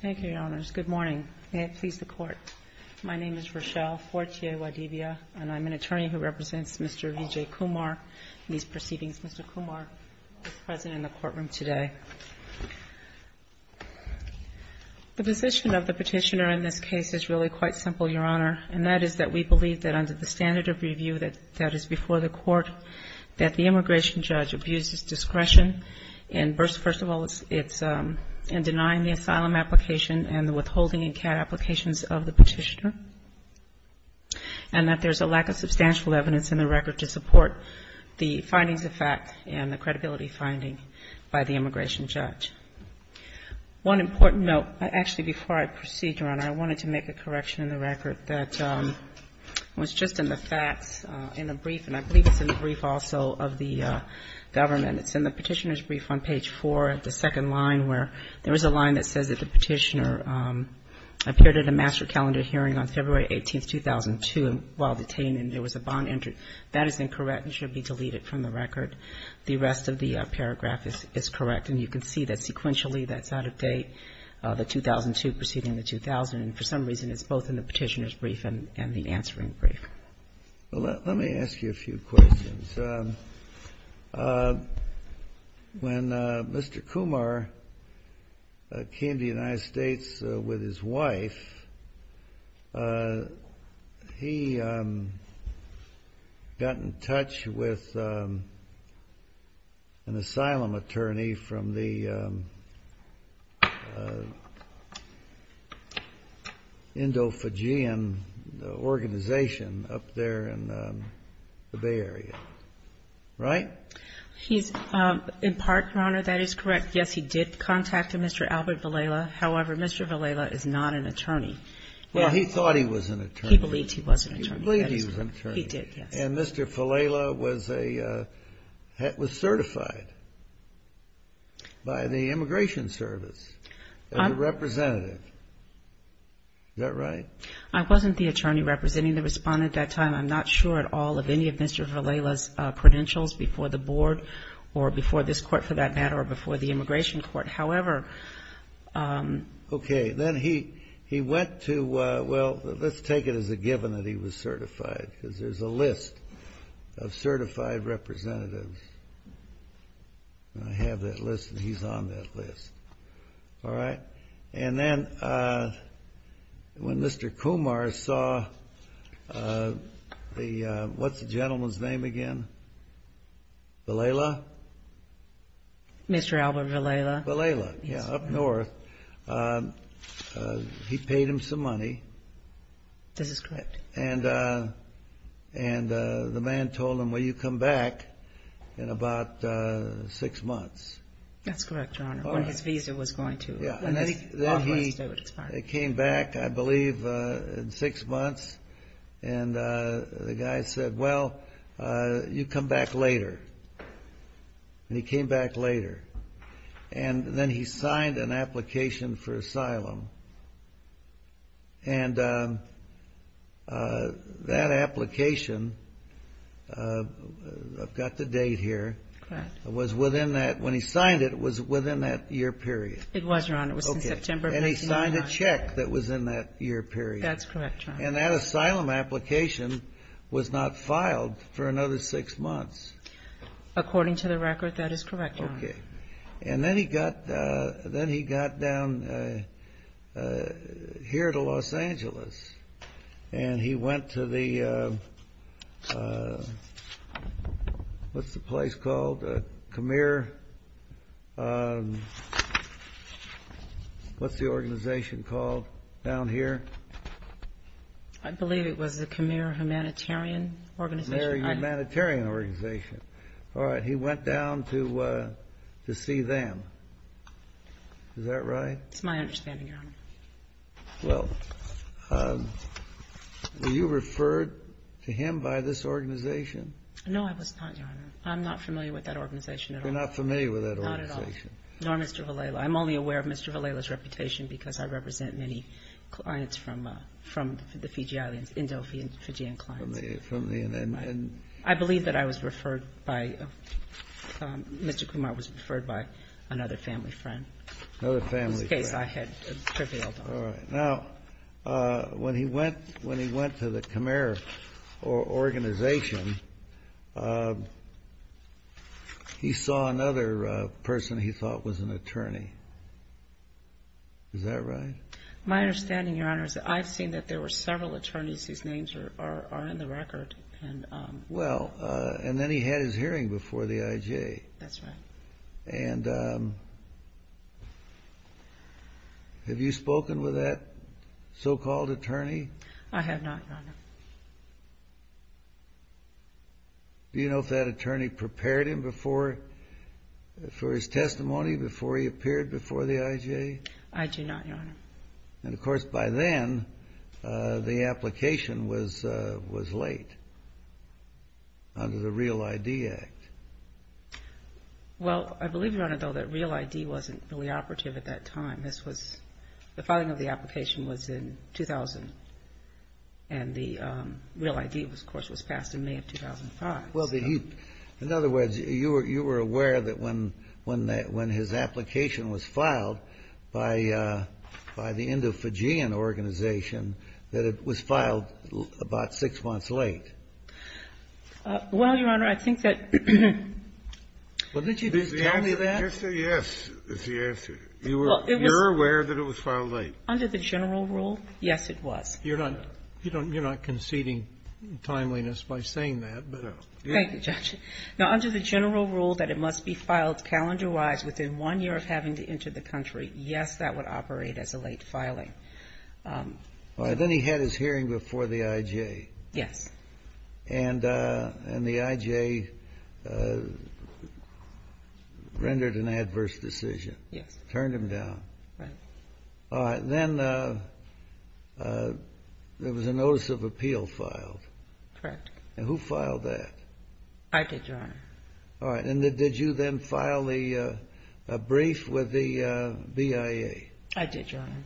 Thank you, Your Honors. Good morning. May it please the Court, my name is Rochelle Fortier-Wadivia, and I'm an attorney who represents Mr. Vijay Kumar in these proceedings. Mr. Kumar is present in the courtroom today. The position of the petitioner in this case is really quite simple, Your Honor, and that is that we believe that under the standard of review that is before the Court, that the asylum application and the withholding and care applications of the petitioner, and that there's a lack of substantial evidence in the record to support the findings of fact and the credibility finding by the immigration judge. One important note. Actually, before I proceed, Your Honor, I wanted to make a correction in the record that was just in the facts in the brief, and I believe it's in the brief also of the government. It's in the petitioner's brief on page 4, the second line, where there is a line that says that the petitioner appeared at a master calendar hearing on February 18, 2002, while detained, and there was a bond entered. That is incorrect and should be deleted from the record. The rest of the paragraph is correct, and you can see that sequentially that's out of date, the 2002 preceding the 2000, and for some reason it's both in the petitioner's brief and the answering brief. Well, let me ask you a few questions. When Mr. Kumar came to the United States with his wife, he got in touch with an asylum attorney from the Fijian organization up there in the Bay Area, right? He's in part, Your Honor, that is correct. Yes, he did contact Mr. Albert Villela. However, Mr. Villela is not an attorney. Well, he thought he was an attorney. He believed he was an attorney. He believed he was an attorney. He did, yes. And Mr. Villela was certified by the immigration service as a representative. Is that right? I wasn't the attorney representing the Respondent at that time. I'm not sure at all of any of Mr. Villela's credentials before the board or before this Court, for that matter, or before the immigration court. However, Okay. Then he went to, well, let's take it as a given that he was certified, because there's a list of certified representatives. I have that list, and he's on that list. All right? And then when Mr. Kumar saw the, what's the gentleman's name again? Villela? Mr. Albert Villela. Villela, yes, up north. He paid him some money. This is correct. And the man told him, well, you come back in about six months. That's correct, Your Honor. And then he came back, I believe, in six months. And the guy said, well, you come back later. And he came back later. And then he signed an application for asylum. And that application, I've got the date here. Correct. It was within that, when he signed it, it was within that year period. It was, Your Honor. It was in September. And he signed a check that was in that year period. That's correct, Your Honor. And that asylum application was not filed for another six months. According to the record, that is correct, Your Honor. Okay. And then he got down here to Los Angeles, and he went to the, what's the place called, a Khmer, what's the organization called down here? I believe it was the Khmer Humanitarian Organization. Khmer Humanitarian Organization. All right. He went down to see them. Is that right? It's my understanding, Your Honor. Well, were you referred to him by this organization? No, I was not, Your Honor. I'm not familiar with that organization at all. You're not familiar with that organization? Not at all. Nor Mr. Valela. I'm only aware of Mr. Valela's reputation because I represent many clients from the Fijialians, Indo-Fijian clients. From the Indian. I believe that I was referred by, Mr. Kumar was referred by another family friend. Another family friend. In this case, I had prevailed. All right. Now, when he went to the Khmer organization, he saw another person he thought was an attorney. Is that right? My understanding, Your Honor, is that I've seen that there were several attorneys whose names are in the record. Well, and then he had his hearing before the IJ. That's right. And have you spoken with that so-called attorney? I have not, Your Honor. Do you know if that attorney prepared him for his testimony before he appeared before the IJ? I do not, Your Honor. And, of course, by then, the application was late under the Real ID Act. Well, I believe, Your Honor, though, that Real ID wasn't really operative at that time. This was the filing of the application was in 2000, and the Real ID, of course, was passed in May of 2005. Well, in other words, you were aware that when his application was filed by the Indo-Fijian organization, that it was filed about six months late. Well, Your Honor, I think that you're aware that it was filed late. Under the general rule, yes, it was. You're not conceding timeliness by saying that. Thank you, Judge. Now, under the general rule that it must be filed calendar-wise within one year of having to enter the country, yes, that would operate as a late filing. Then he had his hearing before the IJ. Yes. And the IJ rendered an adverse decision. Yes. Turned him down. Right. All right. Then there was a notice of appeal filed. Correct. And who filed that? I did, Your Honor. All right. And did you then file a brief with the BIA? I did, Your Honor.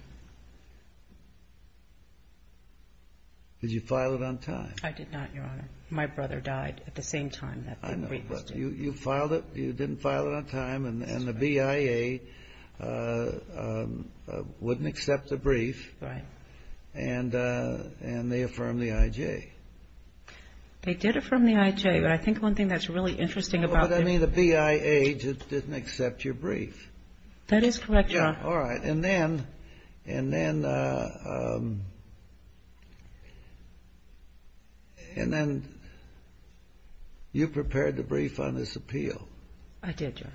Did you file it on time? I did not, Your Honor. My brother died at the same time that the brief was due. I know. But you filed it. You didn't file it on time. And the BIA wouldn't accept the brief. Right. And they affirmed the IJ. They did affirm the IJ. But I think one thing that's really interesting about it was the BIA didn't accept your brief. That is correct, Your Honor. All right. And then you prepared the brief on this appeal. I did, Your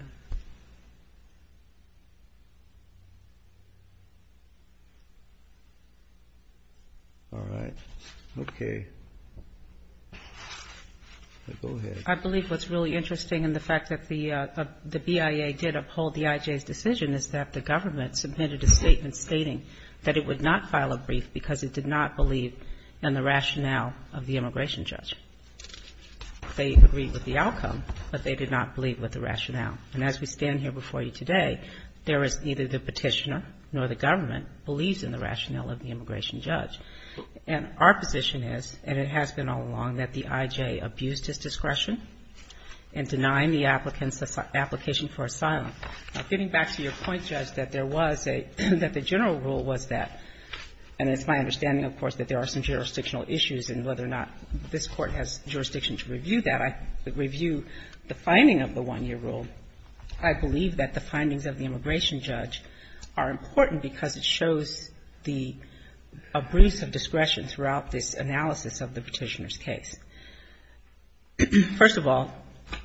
Honor. All right. Okay. Go ahead. I believe what's really interesting in the fact that the BIA did uphold the IJ's decision is that the government submitted a statement stating that it would not file a brief because it did not believe in the rationale of the immigration judge. They agreed with the outcome, but they did not believe with the rationale. And as we stand here before you today, there is neither the petitioner nor the government believes in the rationale of the immigration judge. And our position is, and it has been all along, that the IJ abused his discretion in denying the applicants the application for asylum. Getting back to your point, Judge, that there was a — that the general rule was that — and it's my understanding, of course, that there are some jurisdictional issues in whether or not this Court has jurisdiction to review that. I review the finding of the 1-year rule. I believe that the findings of the immigration judge are important because it shows the abuse of discretion throughout this analysis of the petitioner's case. First of all,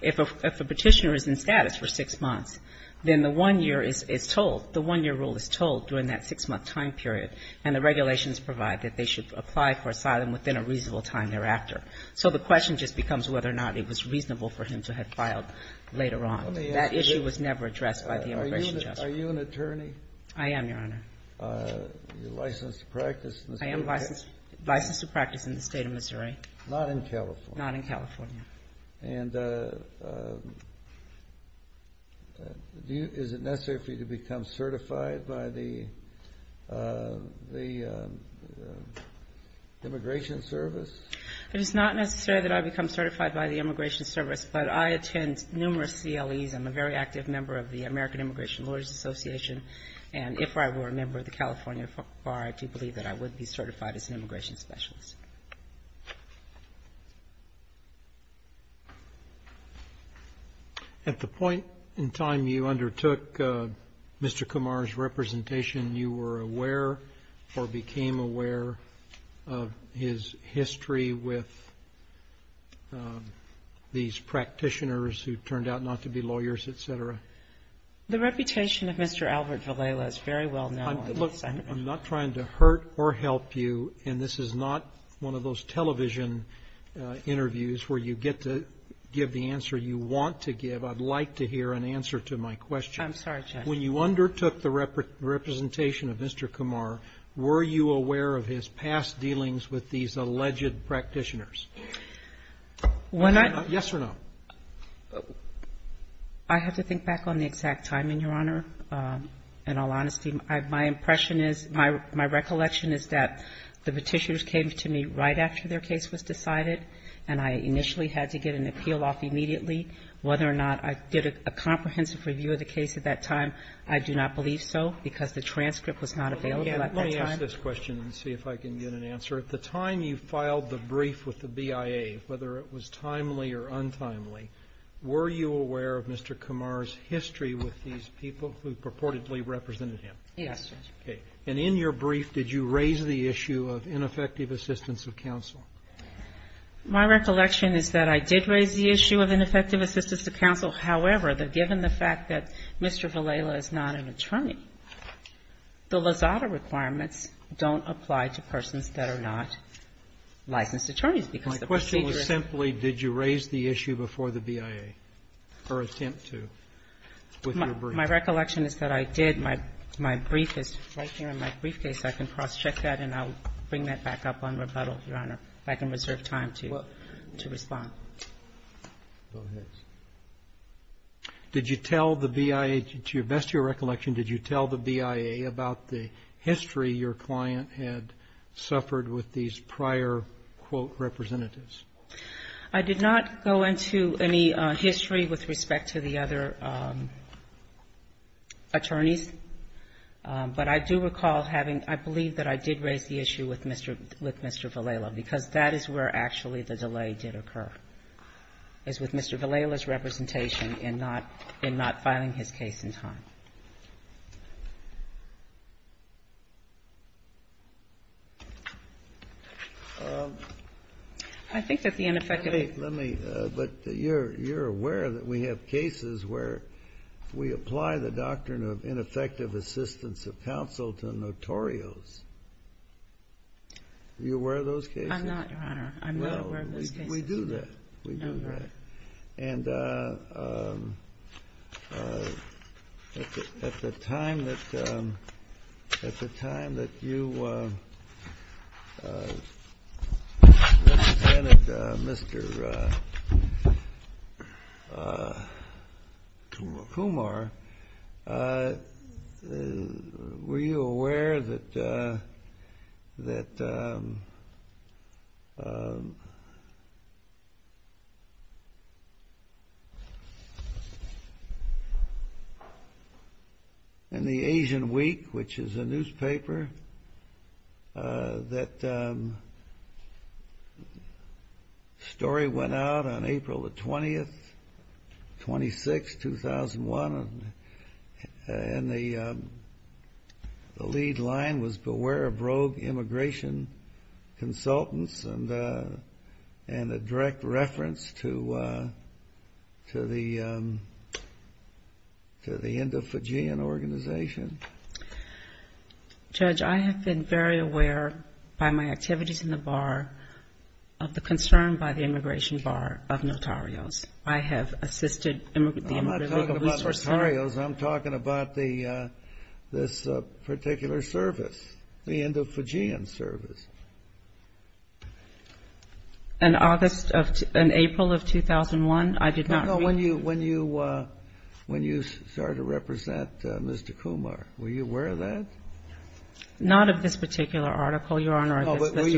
if a petitioner is in status for 6 months, then the 1-year is told — the 1-year rule is told during that 6-month time period, and the regulations provide that they should apply for asylum within a reasonable time thereafter. So the question just becomes whether or not it was reasonable for him to have filed later on. That issue was never addressed by the immigration judge. Kennedy. Are you an attorney? I am, Your Honor. Licensed to practice in the State of Missouri? I am licensed to practice in the State of Missouri. Not in California? Not in California. And is it necessary for you to become certified by the Immigration Service? It is not necessary that I become certified by the Immigration Service, but I attend numerous CLEs. I'm a very active member of the American Immigration Lawyers Association. And if I were a member of the California Bar, I do believe that I would be certified as an immigration specialist. At the point in time you undertook Mr. Kumar's representation, you were aware or became aware of his history with these practitioners who turned out not to be lawyers, et cetera? The reputation of Mr. Albert Villela is very well known. I'm not trying to hurt or help you, and this is not one of those television interviews where you get to give the answer you want to give. I'd like to hear an answer to my question. I'm sorry, Judge. When you undertook the representation of Mr. Kumar, were you aware of his past dealings with these alleged practitioners? Yes or no? I have to think back on the exact time, Your Honor. In all honesty, my impression is, my recollection is that the petitions came to me right after their case was decided, and I initially had to get an appeal off immediately. Whether or not I did a comprehensive review of the case at that time, I do not believe so, because the transcript was not available at that time. Let me ask this question and see if I can get an answer. At the time you filed the brief with the BIA, whether it was timely or untimely, were you aware of Mr. Kumar's history with these people who purportedly represented him? Yes, Judge. Okay. And in your brief, did you raise the issue of ineffective assistance of counsel? My recollection is that I did raise the issue of ineffective assistance of counsel. However, given the fact that Mr. Villela is not an attorney, the Lozada requirements don't apply to persons that are not licensed attorneys, because the procedure is My question was simply, did you raise the issue before the BIA, or attempt to, with your brief? My recollection is that I did. My brief is right here in my briefcase. I can cross-check that, and I will bring that back up on rebuttal, Your Honor, if I can reserve time to respond. Go ahead. Did you tell the BIA, to your best recollection, did you tell the BIA about the history of how possibly your client had suffered with these prior, quote, representatives? I did not go into any history with respect to the other attorneys, but I do recall having — I believe that I did raise the issue with Mr. — with Mr. Villela, because that is where actually the delay did occur, is with Mr. Villela's representation in not filing his case in time. I think that the ineffective — Let me — let me — but you're aware that we have cases where we apply the doctrine of ineffective assistance of counsel to notorious. Are you aware of those cases? I'm not, Your Honor. I'm not aware of those cases. Well, we do that. We do that. Okay. And at the time that — at the time that you represented Mr. Kumar, were you aware that in the Asian Week, which is a newspaper, that the story went out on April the 20th, 2001, and the lead line was, Beware of Rogue Immigration Consultants, and a direct reference to the — to the Indo-Fijian organization? Judge, I have been very aware by my activities in the Bar of the concern by the Immigration Bar of notarios. I have assisted the Immigration Booster Center. I'm not talking about notarios. I'm talking about the — this particular service, the Indo-Fijian service. In August of — in April of 2001, I did not — No, no. When you — when you started to represent Mr. Kumar, were you aware of that? Not of this particular article, Your Honor. Well,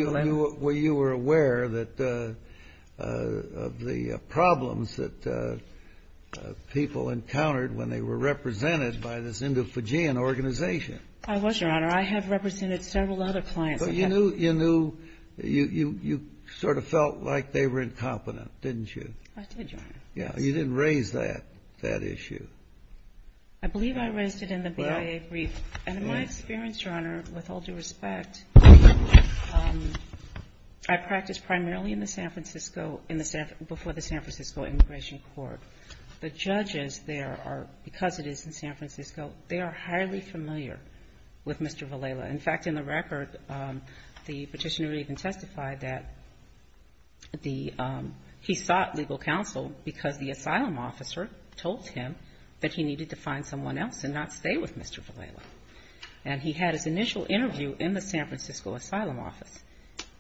you were aware that — of the problems that people encountered when they were represented by this Indo-Fijian organization. I was, Your Honor. I have represented several other clients. But you knew — you knew — you sort of felt like they were incompetent, didn't you? I did, Your Honor. Yeah. You didn't raise that — that issue. I believe I raised it in the BIA brief. And in my experience, Your Honor, with all due respect, I practiced primarily in the San Francisco — in the San — before the San Francisco Immigration Court. The judges there are — because it is in San Francisco, they are highly familiar with Mr. Villela. In fact, in the record, the petitioner even testified that the — he sought legal counsel because the asylum officer told him that he needed to find someone else and not stay with Mr. Villela. And he had his initial interview in the San Francisco Asylum Office.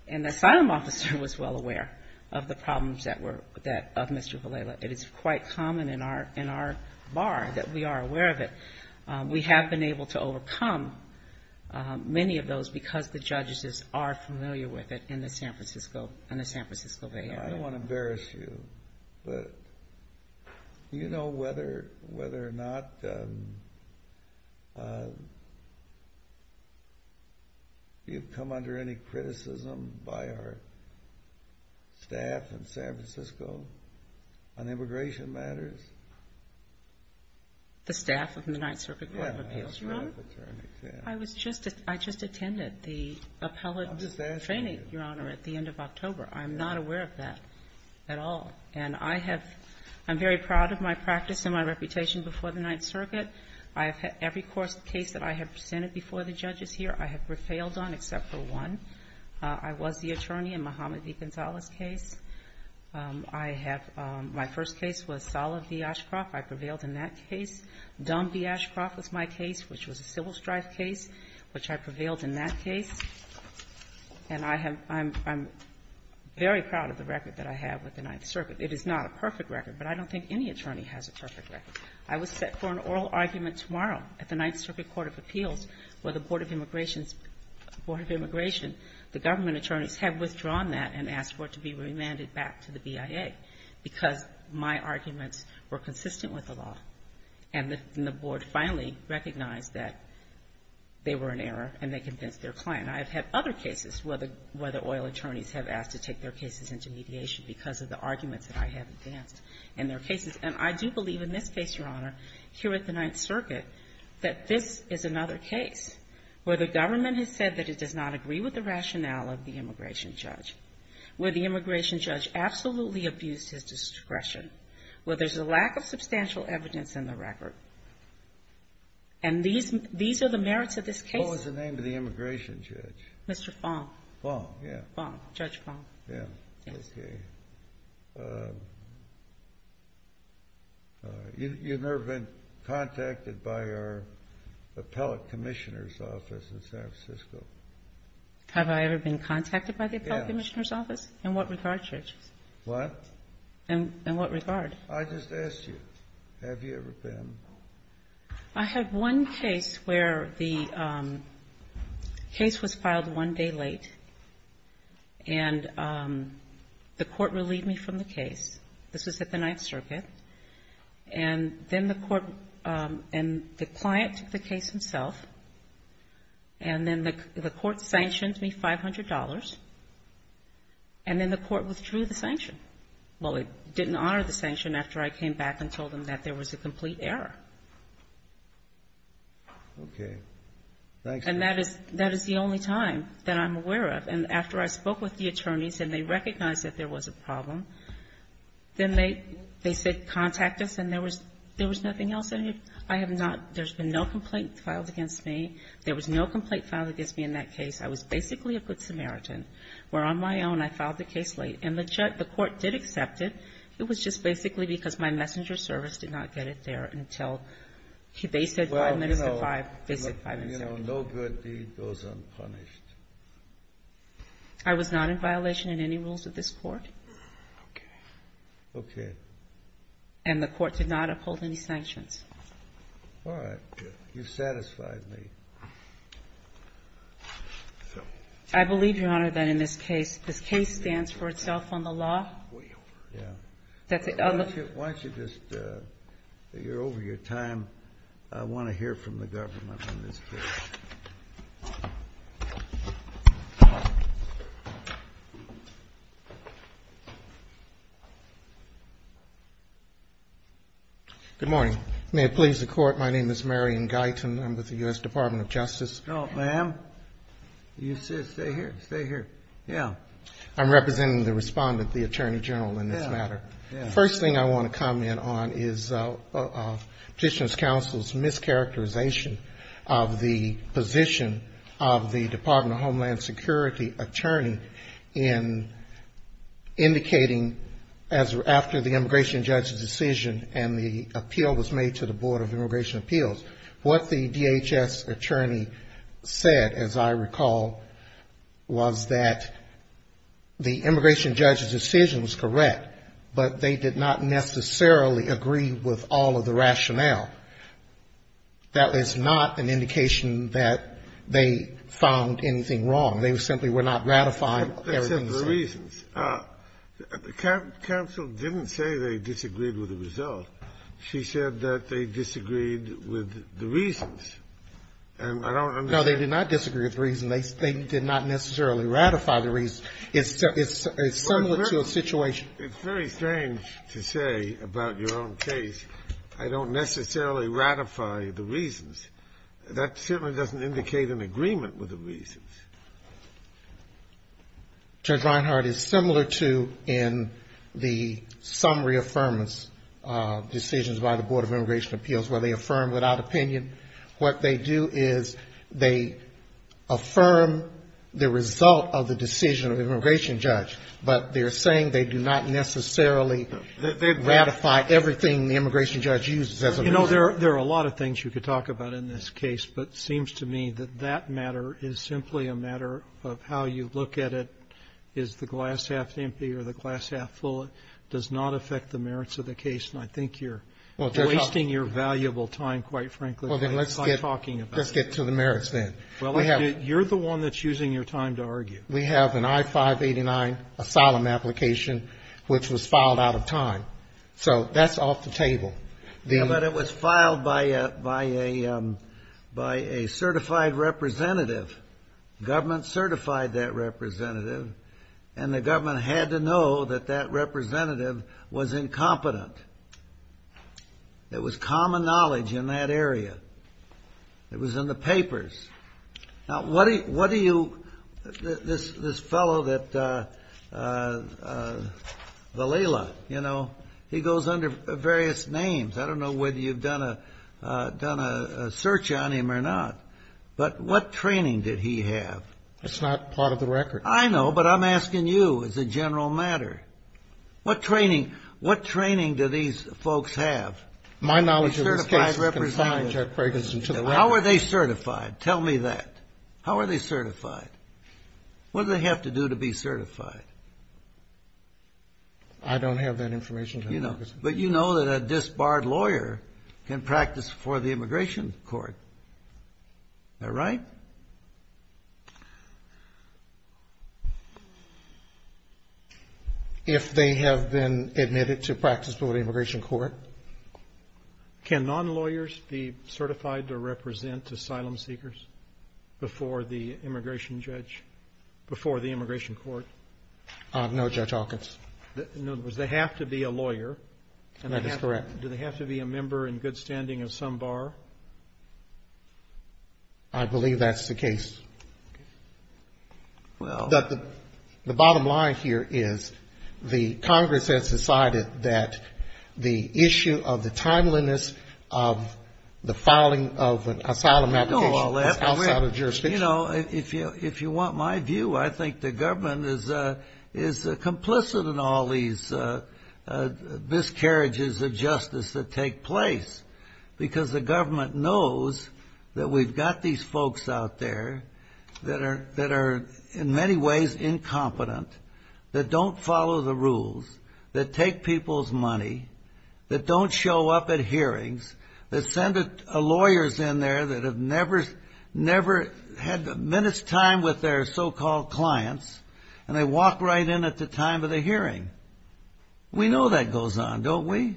And the asylum officer was well aware of the problems that were — that — of Mr. Villela. It is quite common in our — in our bar that we are aware of it. We have been able to overcome many of those because the judges are familiar with it in the San Francisco — in the San Francisco Bay Area. I don't want to embarrass you, but do you know whether — whether or not you've come under any criticism by our staff in San Francisco on immigration matters? The staff of the Ninth Circuit Court of Appeals, Your Honor? Yes, my attorney, yes. I was just — I just attended the appellate — I'm just asking you. — training, Your Honor, at the end of October. I'm not aware of that at all. And I have — I'm very proud of my practice and my reputation before the Ninth Circuit. I have had — every course of case that I have presented before the judges here, I have prevailed on except for one. I was the attorney in Mohamed V. Gonzalez's case. I have — my first case was Salah v. Ashcroft. I prevailed in that case. Dumb v. Ashcroft was my case, which was a civil strife case, which I prevailed in that case. And I have — I'm — I'm very proud of the record that I have with the Ninth Circuit. It is not a perfect record, but I don't think any attorney has a perfect record. I was set for an oral argument tomorrow at the Ninth Circuit Court of Appeals where the Board of Immigration's — Board of Immigration, the government attorneys, had withdrawn that and asked for it to be remanded back to the BIA because my arguments were consistent with the law. And the — and the board finally recognized that they were in error and they convinced their client. I have had other cases where the — where the oil attorneys have asked to take their cases into mediation because of the arguments that I have advanced in their cases. And I do believe in this case, Your Honor, here at the Ninth Circuit, that this is another case where the government has said that it does not agree with the rationale of the immigration judge, where the immigration judge absolutely abused his discretion, where there's a lack of substantial evidence in the record. And these — these are the merits of this case. What was the name of the immigration judge? Mr. Fong. Fong, yeah. Fong, Judge Fong. Yeah. Yes. Okay. You've never been contacted by our appellate commissioner's office in San Francisco? Have I ever been contacted by the appellate commissioner's office? Yes. In what regard, Judge? What? In what regard? I just asked you. Have you ever been? I have one case where the case was filed one day late, and the court relieved me from the case. This was at the Ninth Circuit. And then the court — and the client took the case himself, and then the court sanctioned me $500, and then the court withdrew the sanction. Well, it didn't honor the sanction after I came back and told them that there was a complete error. Okay. Thanks. And that is — that is the only time that I'm aware of. And after I spoke with the attorneys and they recognized that there was a problem, then they — they said contact us, and there was — there was nothing else. I have not — there's been no complaint filed against me. There was no complaint filed against me in that case. I was basically a good Samaritan, where on my own I filed the case late. And the court did accept it. It was just basically because my messenger service did not get it there until — they said five minutes to 5. They said five minutes to 5. Well, you know, no good deed goes unpunished. I was not in violation in any rules of this court. Okay. Okay. And the court did not uphold any sanctions. All right. Good. You've satisfied me. So. I believe, Your Honor, that in this case, this case stands for itself on the law. Way over. Yeah. That's a — Why don't you just — you're over your time. I want to hear from the government on this case. Good morning. May it please the Court, my name is Marion Guyton. I'm with the U.S. Department of Justice. No, ma'am. You sit. Stay here. Stay here. Yeah. I'm representing the respondent, the Attorney General, in this matter. Yeah. Yeah. The first thing I want to comment on is Petitioner's Counsel's mischaracterization of the position of the Department of Homeland Security attorney in indicating, after the immigration judge's decision and the appeal was made to the Board of Immigration Appeals, what the DHS attorney said, as I recall, was that the immigration judge's decision was correct, but they did not necessarily agree with all of the rationale. That is not an indication that they found anything wrong. They simply were not ratifying everything. Except for reasons. Counsel didn't say they disagreed with the result. She said that they disagreed with the reasons. And I don't understand. No, they did not disagree with the reasons. They did not necessarily ratify the reasons. It's similar to a situation. It's very strange to say about your own case, I don't necessarily ratify the reasons. That certainly doesn't indicate an agreement with the reasons. Judge Reinhart, it's similar to in the summary affirmance decisions by the Board of Immigration Appeals where they affirm without opinion. What they do is they affirm the result of the decision of the immigration judge, but they're saying they do not necessarily ratify everything the immigration judge uses as a reason. You know, there are a lot of things you could talk about in this case, but it seems to me that that matter is simply a matter of how you look at it. Is the glass half empty or the glass half full? It does not affect the merits of the case. And I think you're wasting your valuable time, quite frankly, by talking about it. Let's get to the merits then. You're the one that's using your time to argue. We have an I-589 asylum application which was filed out of time. So that's off the table. Yeah, but it was filed by a certified representative. The government certified that representative, and the government had to know that that representative was incompetent. It was common knowledge in that area. It was in the papers. Now, what do you, this fellow that, Valila, you know, he goes under various names. I don't know whether you've done a search on him or not, but what training did he have? It's not part of the record. I know, but I'm asking you as a general matter. What training do these folks have? My knowledge of this case is confined, Judge Ferguson, to the record. How are they certified? Tell me that. How are they certified? What do they have to do to be certified? I don't have that information. But you know that a disbarred lawyer can practice before the immigration court. Is that right? If they have been admitted to practice before the immigration court. Can non-lawyers be certified to represent asylum seekers before the immigration judge, before the immigration court? No, Judge Hawkins. In other words, they have to be a lawyer. That is correct. Do they have to be a member in good standing of some bar? I believe that's the case. The bottom line here is the Congress has decided that the issue of the timeliness of the filing of an asylum application is outside of jurisdiction. You know, if you want my view, I think the government is complicit in all these miscarriages of justice that take place, because the government knows that we've got these folks out there that are in many ways incompetent, that don't follow the rules, that take people's money, that don't show up at hearings, that send lawyers in there that have never had a minute's time with their so-called clients, and they walk right in at the time of the hearing. We know that goes on, don't we?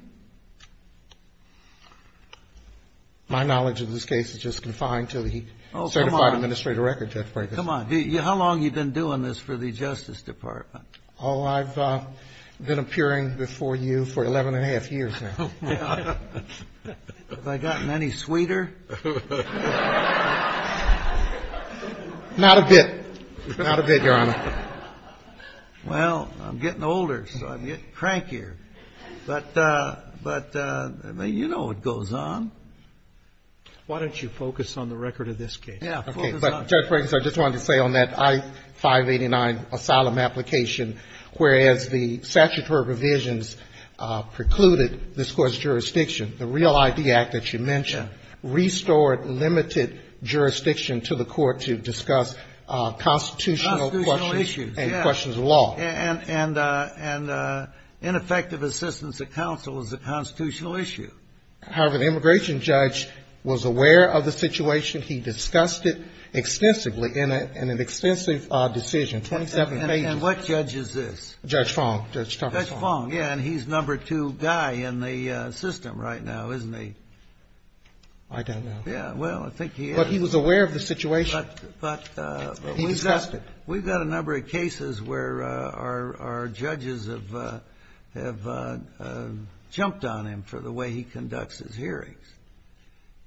My knowledge of this case is just confined to the certified administrator record, Judge Brekus. Come on. How long have you been doing this for the Justice Department? Oh, I've been appearing before you for 11 1⁄2 years now. Have I gotten any sweeter? Not a bit. Not a bit, Your Honor. Well, I'm getting older, so I'm getting crankier. But, I mean, you know what goes on. Why don't you focus on the record of this case? Yeah, focus on it. Okay. But, Judge Brekus, I just wanted to say on that I-589 asylum application, whereas the statutory revisions precluded this Court's jurisdiction, the REAL ID Act that you mentioned restored limited jurisdiction to the Court to discuss constitutional questions and questions of law. Constitutional issues, yeah. And ineffective assistance of counsel is a constitutional issue. However, the immigration judge was aware of the situation. He discussed it extensively in an extensive decision, 27 pages. And what judge is this? Judge Fong, Judge Tucker Fong. Judge Fong, yeah, and he's number two guy in the system right now, isn't he? I don't know. Yeah, well, I think he is. But he was aware of the situation. But we've got- He discussed it. We've got a number of cases where our judges have jumped on him for the way he conducts his hearings.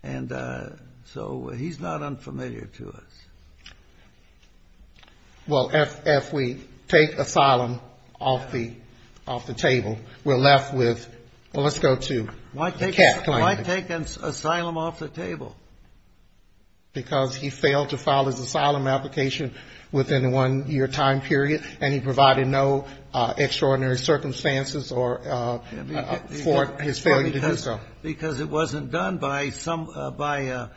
And so he's not unfamiliar to us. Well, if we take asylum off the table, we're left with, well, let's go to the CAF claim. Why take asylum off the table? Because he failed to file his asylum application within a one-year time period, and he provided no extraordinary circumstances for his failure to do so. Well, because it wasn't done by some, by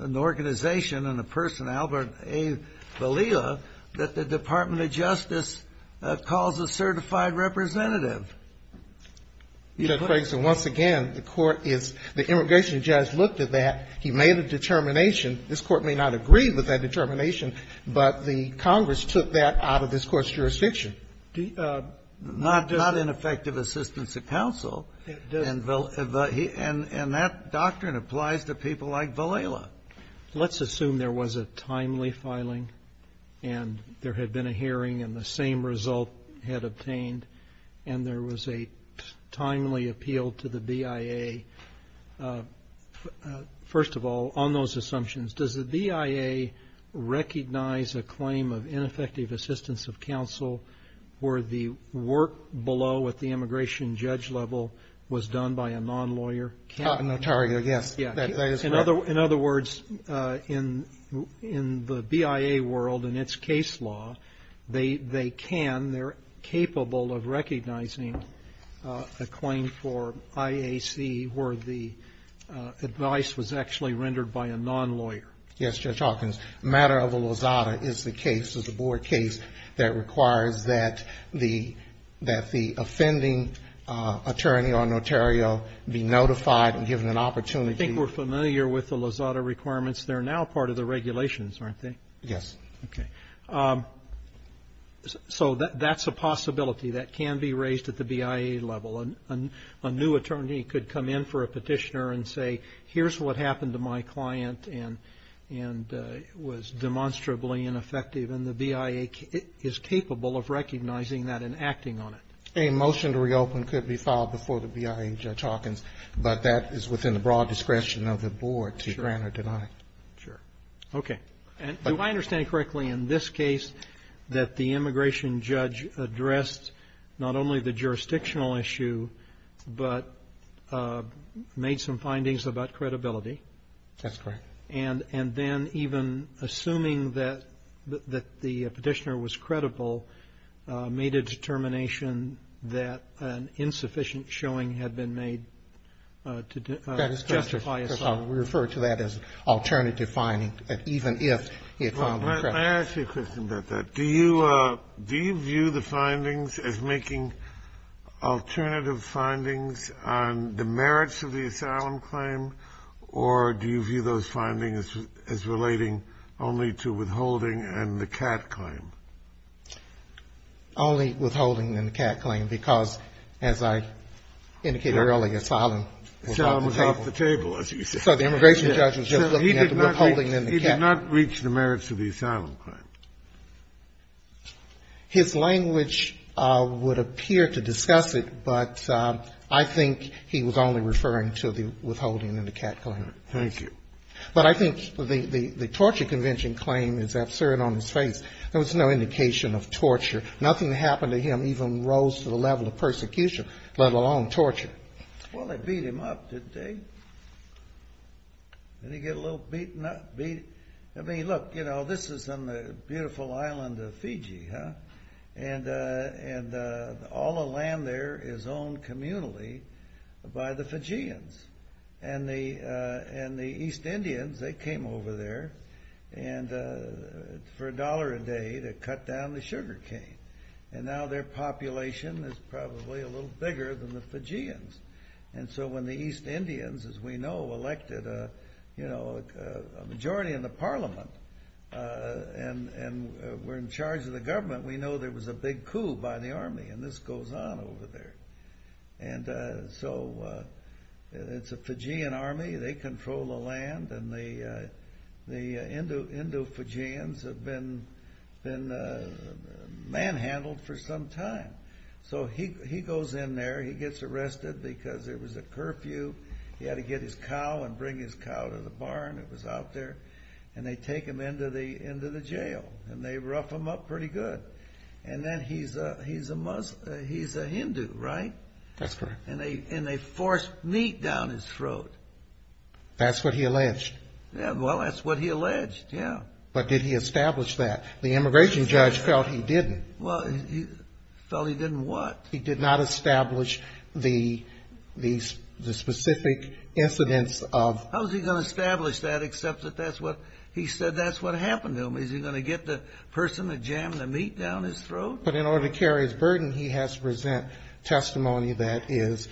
an organization and a person, Albert A. Valila, that the Department of Justice calls a certified representative. You know, Craigson, once again, the court is, the immigration judge looked at that. He made a determination. This Court may not agree with that determination, but the Congress took that out of this Court's jurisdiction. Not ineffective assistance of counsel. And that doctrine applies to people like Valila. Let's assume there was a timely filing, and there had been a hearing, and the same result had obtained, and there was a timely appeal to the BIA. First of all, on those assumptions, does the BIA recognize a claim of ineffective assistance of counsel where the work below at the immigration judge level was done by a non-lawyer? Notario, yes. That is correct. In other words, in the BIA world, in its case law, they can, they're capable of recognizing a claim for IAC where the advice was actually by a non-lawyer. Yes, Judge Hawkins. Matter of the Lozada is the case, is a board case that requires that the offending attorney on Notario be notified and given an opportunity. I think we're familiar with the Lozada requirements. They're now part of the regulations, aren't they? Yes. Okay. So that's a possibility that can be raised at the BIA level. A new attorney could come in for a petitioner and say, here's what happened to my client and was demonstrably ineffective. And the BIA is capable of recognizing that and acting on it. A motion to reopen could be filed before the BIA, Judge Hawkins, but that is within the broad discretion of the board to grant or deny. Sure. Okay. And do I understand correctly in this case that the immigration judge addressed not only the jurisdictional issue, but made some findings about credibility? That's correct. And then even assuming that the petitioner was credible, made a determination that an insufficient showing had been made to justify assault? That is correct. We refer to that as alternative finding, even if he had found them credible. Let me ask you a question about that. Do you view the findings as making alternative findings on the merits of the asylum claim, or do you view those findings as relating only to withholding and the CAT claim? Only withholding and the CAT claim, because as I indicated earlier, asylum was off the table. Asylum was off the table, as you said. So the immigration judge was just looking at the withholding and the CAT claim. He did not reach the merits of the asylum claim. His language would appear to discuss it, but I think he was only referring to the withholding and the CAT claim. Thank you. But I think the torture convention claim is absurd on its face. There was no indication of torture. Nothing happened to him, even rose to the level of persecution, let alone torture. Well, they beat him up, didn't they? Didn't he get a little beaten up? I mean, look, this is on the beautiful island of Fiji, huh? And all the land there is owned communally by the Fijians. And the East Indians, they came over there for a dollar a day to cut down the sugarcane. And now their population is probably a little bigger than the Fijians. And so when the East Indians, as we know, elected a majority in the parliament and were in charge of the government, we know there was a big coup by the army, and this goes on over there. And so it's a Fijian army. They control the land, and the Indo-Fijians have been manhandled for some time. So he goes in there. He gets arrested because there was a curfew. He had to get his cow and bring his cow to the barn that was out there. And they take him into the jail, and they rough him up pretty good. And then he's a Hindu, right? That's correct. And they force meat down his throat. That's what he alleged. Well, that's what he alleged, yeah. But did he establish that? The immigration judge felt he didn't. Well, he felt he didn't what? He did not establish the specific incidents of. How is he going to establish that except that that's what he said that's what happened to him? Is he going to get the person that jammed the meat down his throat? But in order to carry his burden, he has to present testimony that is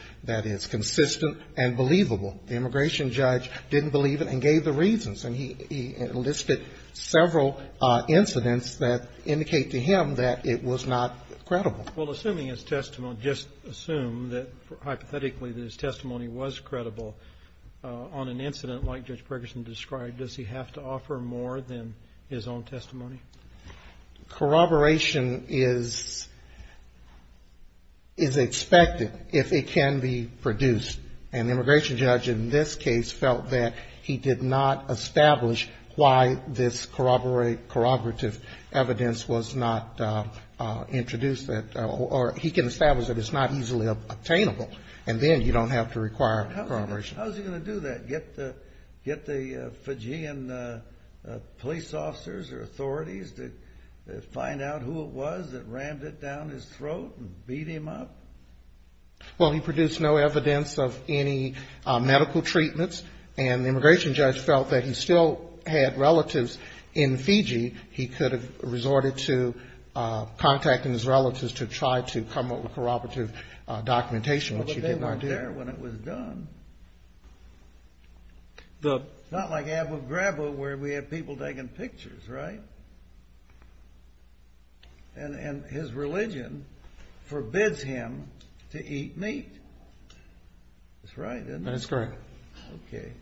consistent and believable. The immigration judge didn't believe it and gave the reasons. And he listed several incidents that indicate to him that it was not credible. Well, assuming his testimony, just assume that hypothetically that his testimony was credible on an incident like Judge Ferguson described, does he have to offer more than his own testimony? Corroboration is expected if it can be produced. And the immigration judge in this case felt that he did not establish why this corroborative evidence was not introduced or he can establish that it's not easily obtainable. And then you don't have to require corroboration. How is he going to do that, get the Fijian police officers or authorities to find out who it was that rammed it down his throat and beat him up? Well, he produced no evidence of any medical treatments. And the immigration judge felt that he still had relatives in Fiji. He could have resorted to contacting his relatives to try to come up with corroborative documentation, which he did not do. But they weren't there when it was done. It's not like Abu Ghraib where we have people taking pictures, right? And his religion forbids him to eat meat. That's right, isn't it? That's correct. Okay.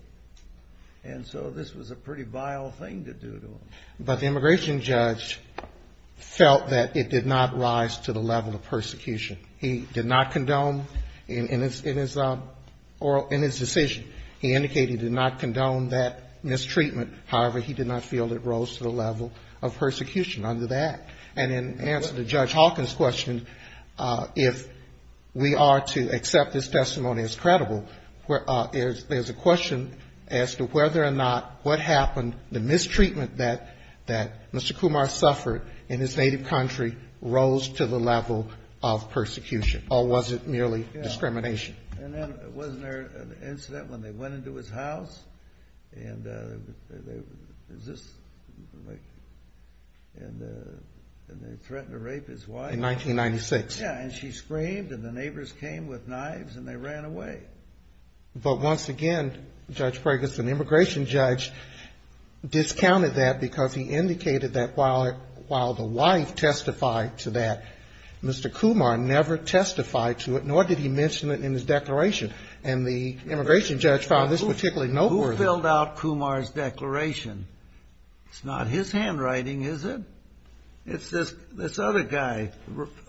And so this was a pretty vile thing to do to him. But the immigration judge felt that it did not rise to the level of persecution. He did not condone in his decision. He indicated he did not condone that mistreatment. However, he did not feel it rose to the level of persecution under that. And in answer to Judge Hawkins' question, if we are to accept this testimony as credible, there's a question as to whether or not what happened, the mistreatment that Mr. Kumar suffered in his native country rose to the level of persecution, or was it merely discrimination? And then wasn't there an incident when they went into his house and they threatened to rape his wife? In 1996. Yeah, and she screamed and the neighbors came with knives and they ran away. But once again, Judge Ferguson, the immigration judge, discounted that because he indicated that while the wife testified to that, Mr. Kumar never testified to it, nor did he mention it in his declaration. And the immigration judge found this particularly noteworthy. Who filled out Kumar's declaration? It's not his handwriting, is it? It's this other guy,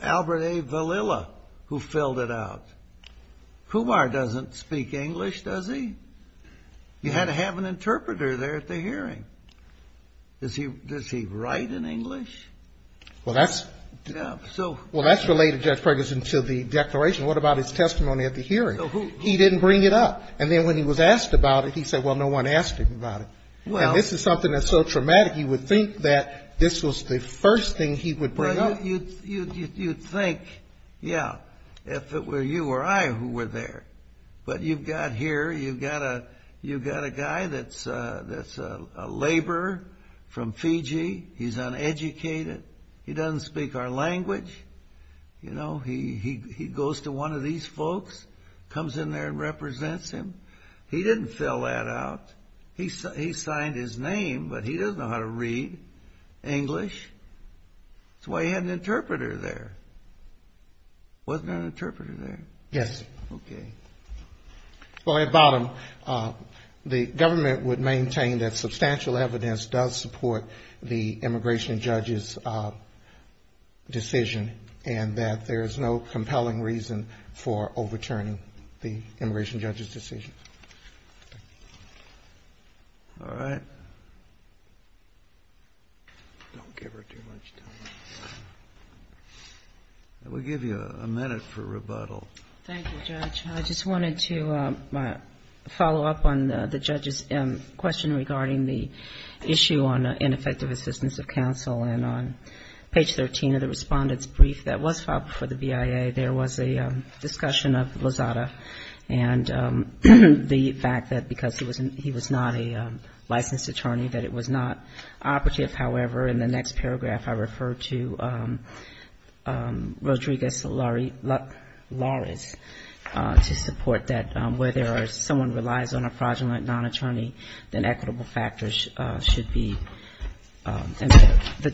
Albert A. Valilla, who filled it out. Kumar doesn't speak English, does he? You had to have an interpreter there at the hearing. Does he write in English? Well, that's related, Judge Ferguson, to the declaration. What about his testimony at the hearing? He didn't bring it up. And then when he was asked about it, he said, well, no one asked him about it. And this is something that's so traumatic, you would think that this was the first thing he would bring up. Well, you'd think, yeah, if it were you or I who were there. But you've got here, you've got a guy that's a laborer from Fiji. He's uneducated. He doesn't speak our language. You know, he goes to one of these folks, comes in there and represents him. He didn't fill that out. He signed his name, but he doesn't know how to read English. That's why he had an interpreter there. Wasn't there an interpreter there? Yes. Okay. Well, at bottom, the government would maintain that substantial evidence does support the immigration judge's decision and that there is no compelling reason for overturning the immigration judge's decision. All right. Don't give her too much time. We'll give you a minute for rebuttal. Thank you, Judge. I just wanted to follow up on the judge's question regarding the issue on ineffective assistance of counsel. And on page 13 of the Respondent's Brief that was filed before the BIA, there was a discussion of Lozada and the fact that because he was not a licensed attorney, that it was not operative. However, in the next paragraph, I refer to Rodriguez-Lawrence to support that whether someone relies on a fraudulent non-attorney, then equitable factors should be, the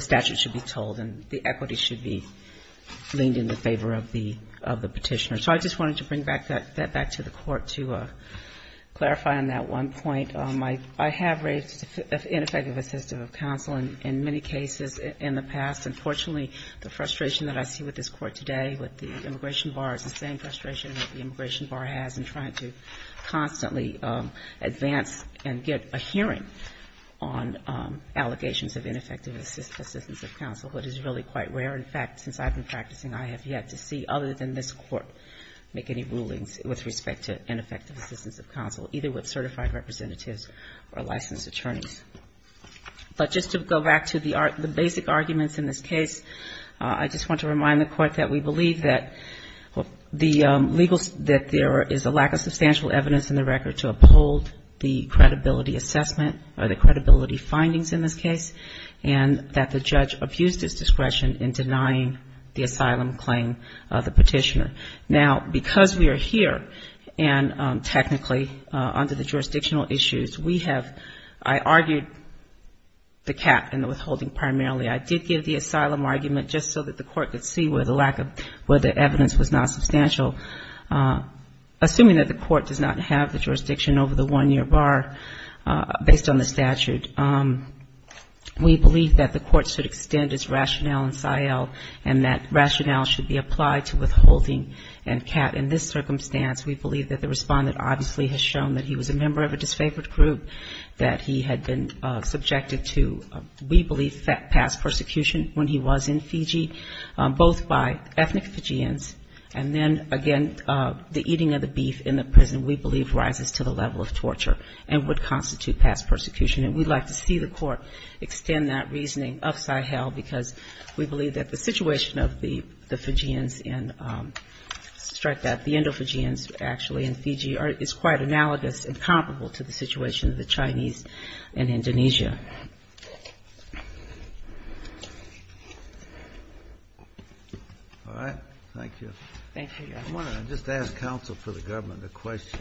statute should be told, and the equity should be leaned in the favor of the petitioner. So I just wanted to bring that back to the Court to clarify on that one point. I have raised ineffective assistance of counsel in many cases in the past. And fortunately, the frustration that I see with this Court today, with the immigration bar, is the same frustration that the immigration bar has in trying to constantly advance and get a hearing on allegations of ineffective assistance of counsel, which is really quite rare. In fact, since I've been practicing, I have yet to see, other than this Court, make any rulings with respect to ineffective assistance of counsel, either with certified representatives or licensed attorneys. But just to go back to the basic arguments in this case, I just want to remind the Court that we believe that the legal, that there is a lack of substantial evidence in the record to uphold the credibility assessment or the credibility findings in this case, and that the judge abused his discretion in denying the asylum claim of the petitioner. Now, because we are here, and technically under the jurisdictional issues, we have, I argued the cap and the withholding primarily. I did give the asylum argument just so that the Court could see where the lack of, where the evidence was not substantial. Assuming that the Court does not have the jurisdiction over the one-year bar based on the statute, and that rationale should be applied to withholding and cap, in this circumstance, we believe that the Respondent obviously has shown that he was a member of a disfavored group, that he had been subjected to, we believe, past persecution when he was in Fiji, both by ethnic Fijians and then, again, the eating of the beef in the prison, we believe rises to the level of torture and would constitute past persecution. And we'd like to see the Court extend that reasoning upside hell, because we believe that the situation of the Fijians in, strike that, the Indo-Fijians actually in Fiji is quite analogous and comparable to the situation of the Chinese in Indonesia. Kennedy. All right. Thank you. Thank you, Your Honor. I want to just ask counsel for the government a question.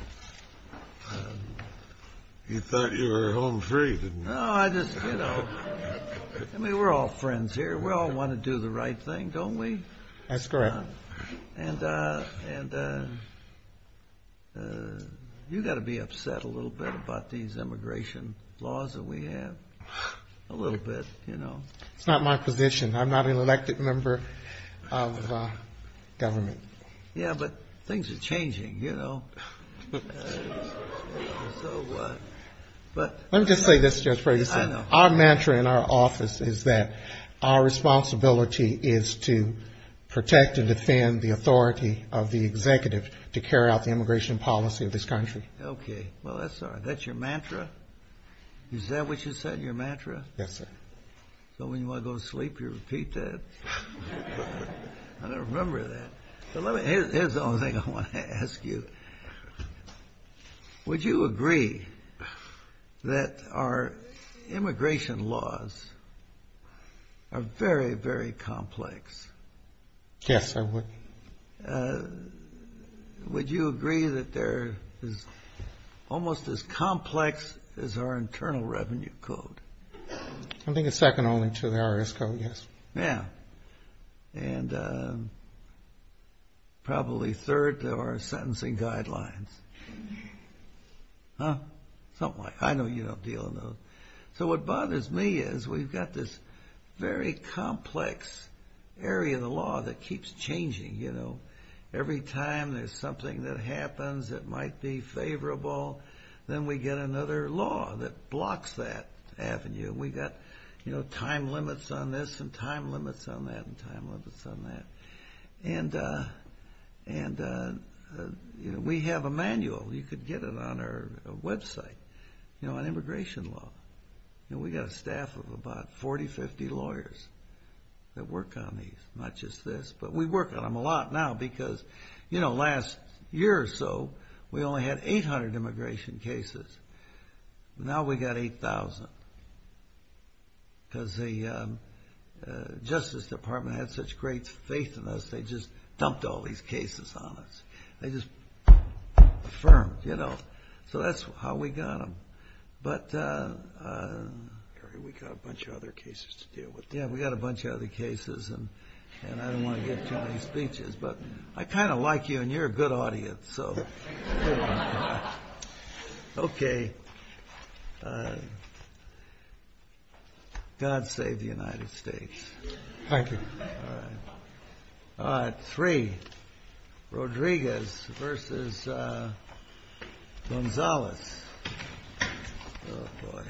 You thought you were home free, didn't you? No, I just, you know, I mean, we're all friends here. We all want to do the right thing, don't we? That's correct. And you've got to be upset a little bit about these immigration laws that we have, a little bit, you know. It's not my position. I'm not an elected member of government. Yeah, but things are changing, you know. So what? Let me just say this, Judge Ferguson. I know. Our mantra in our office is that our responsibility is to protect and defend the authority of the executive to carry out the immigration policy of this country. Okay. Well, that's all right. That's your mantra? Is that what you said, your mantra? Yes, sir. So when you want to go to sleep, you repeat that? I don't remember that. Here's the only thing I want to ask you. Would you agree that our immigration laws are very, very complex? Yes, I would. Would you agree that they're almost as complex as our Internal Revenue Code? I think it's second only to the IRS Code, yes. Yeah, and probably third to our sentencing guidelines. Huh? Something like that. I know you don't deal in those. So what bothers me is we've got this very complex area of the law that keeps changing, you know. Every time there's something that happens that might be favorable, then we get another law that blocks that avenue. We've got time limits on this and time limits on that and time limits on that. And we have a manual. You could get it on our website on immigration law. We've got a staff of about 40, 50 lawyers that work on these, not just this. But we work on them a lot now because last year or so, we only had 800 immigration cases. Now we've got 8,000 because the Justice Department had such great faith in us, they just dumped all these cases on us. They just affirmed, you know. So that's how we got them. But, Gary, we've got a bunch of other cases to deal with. Yeah, we've got a bunch of other cases, and I don't want to give too many speeches. But I kind of like you, and you're a good audience. So, okay. God save the United States. Thank you. All right. Three. Rodriguez versus Gonzalez. Oh, boy. Thank you.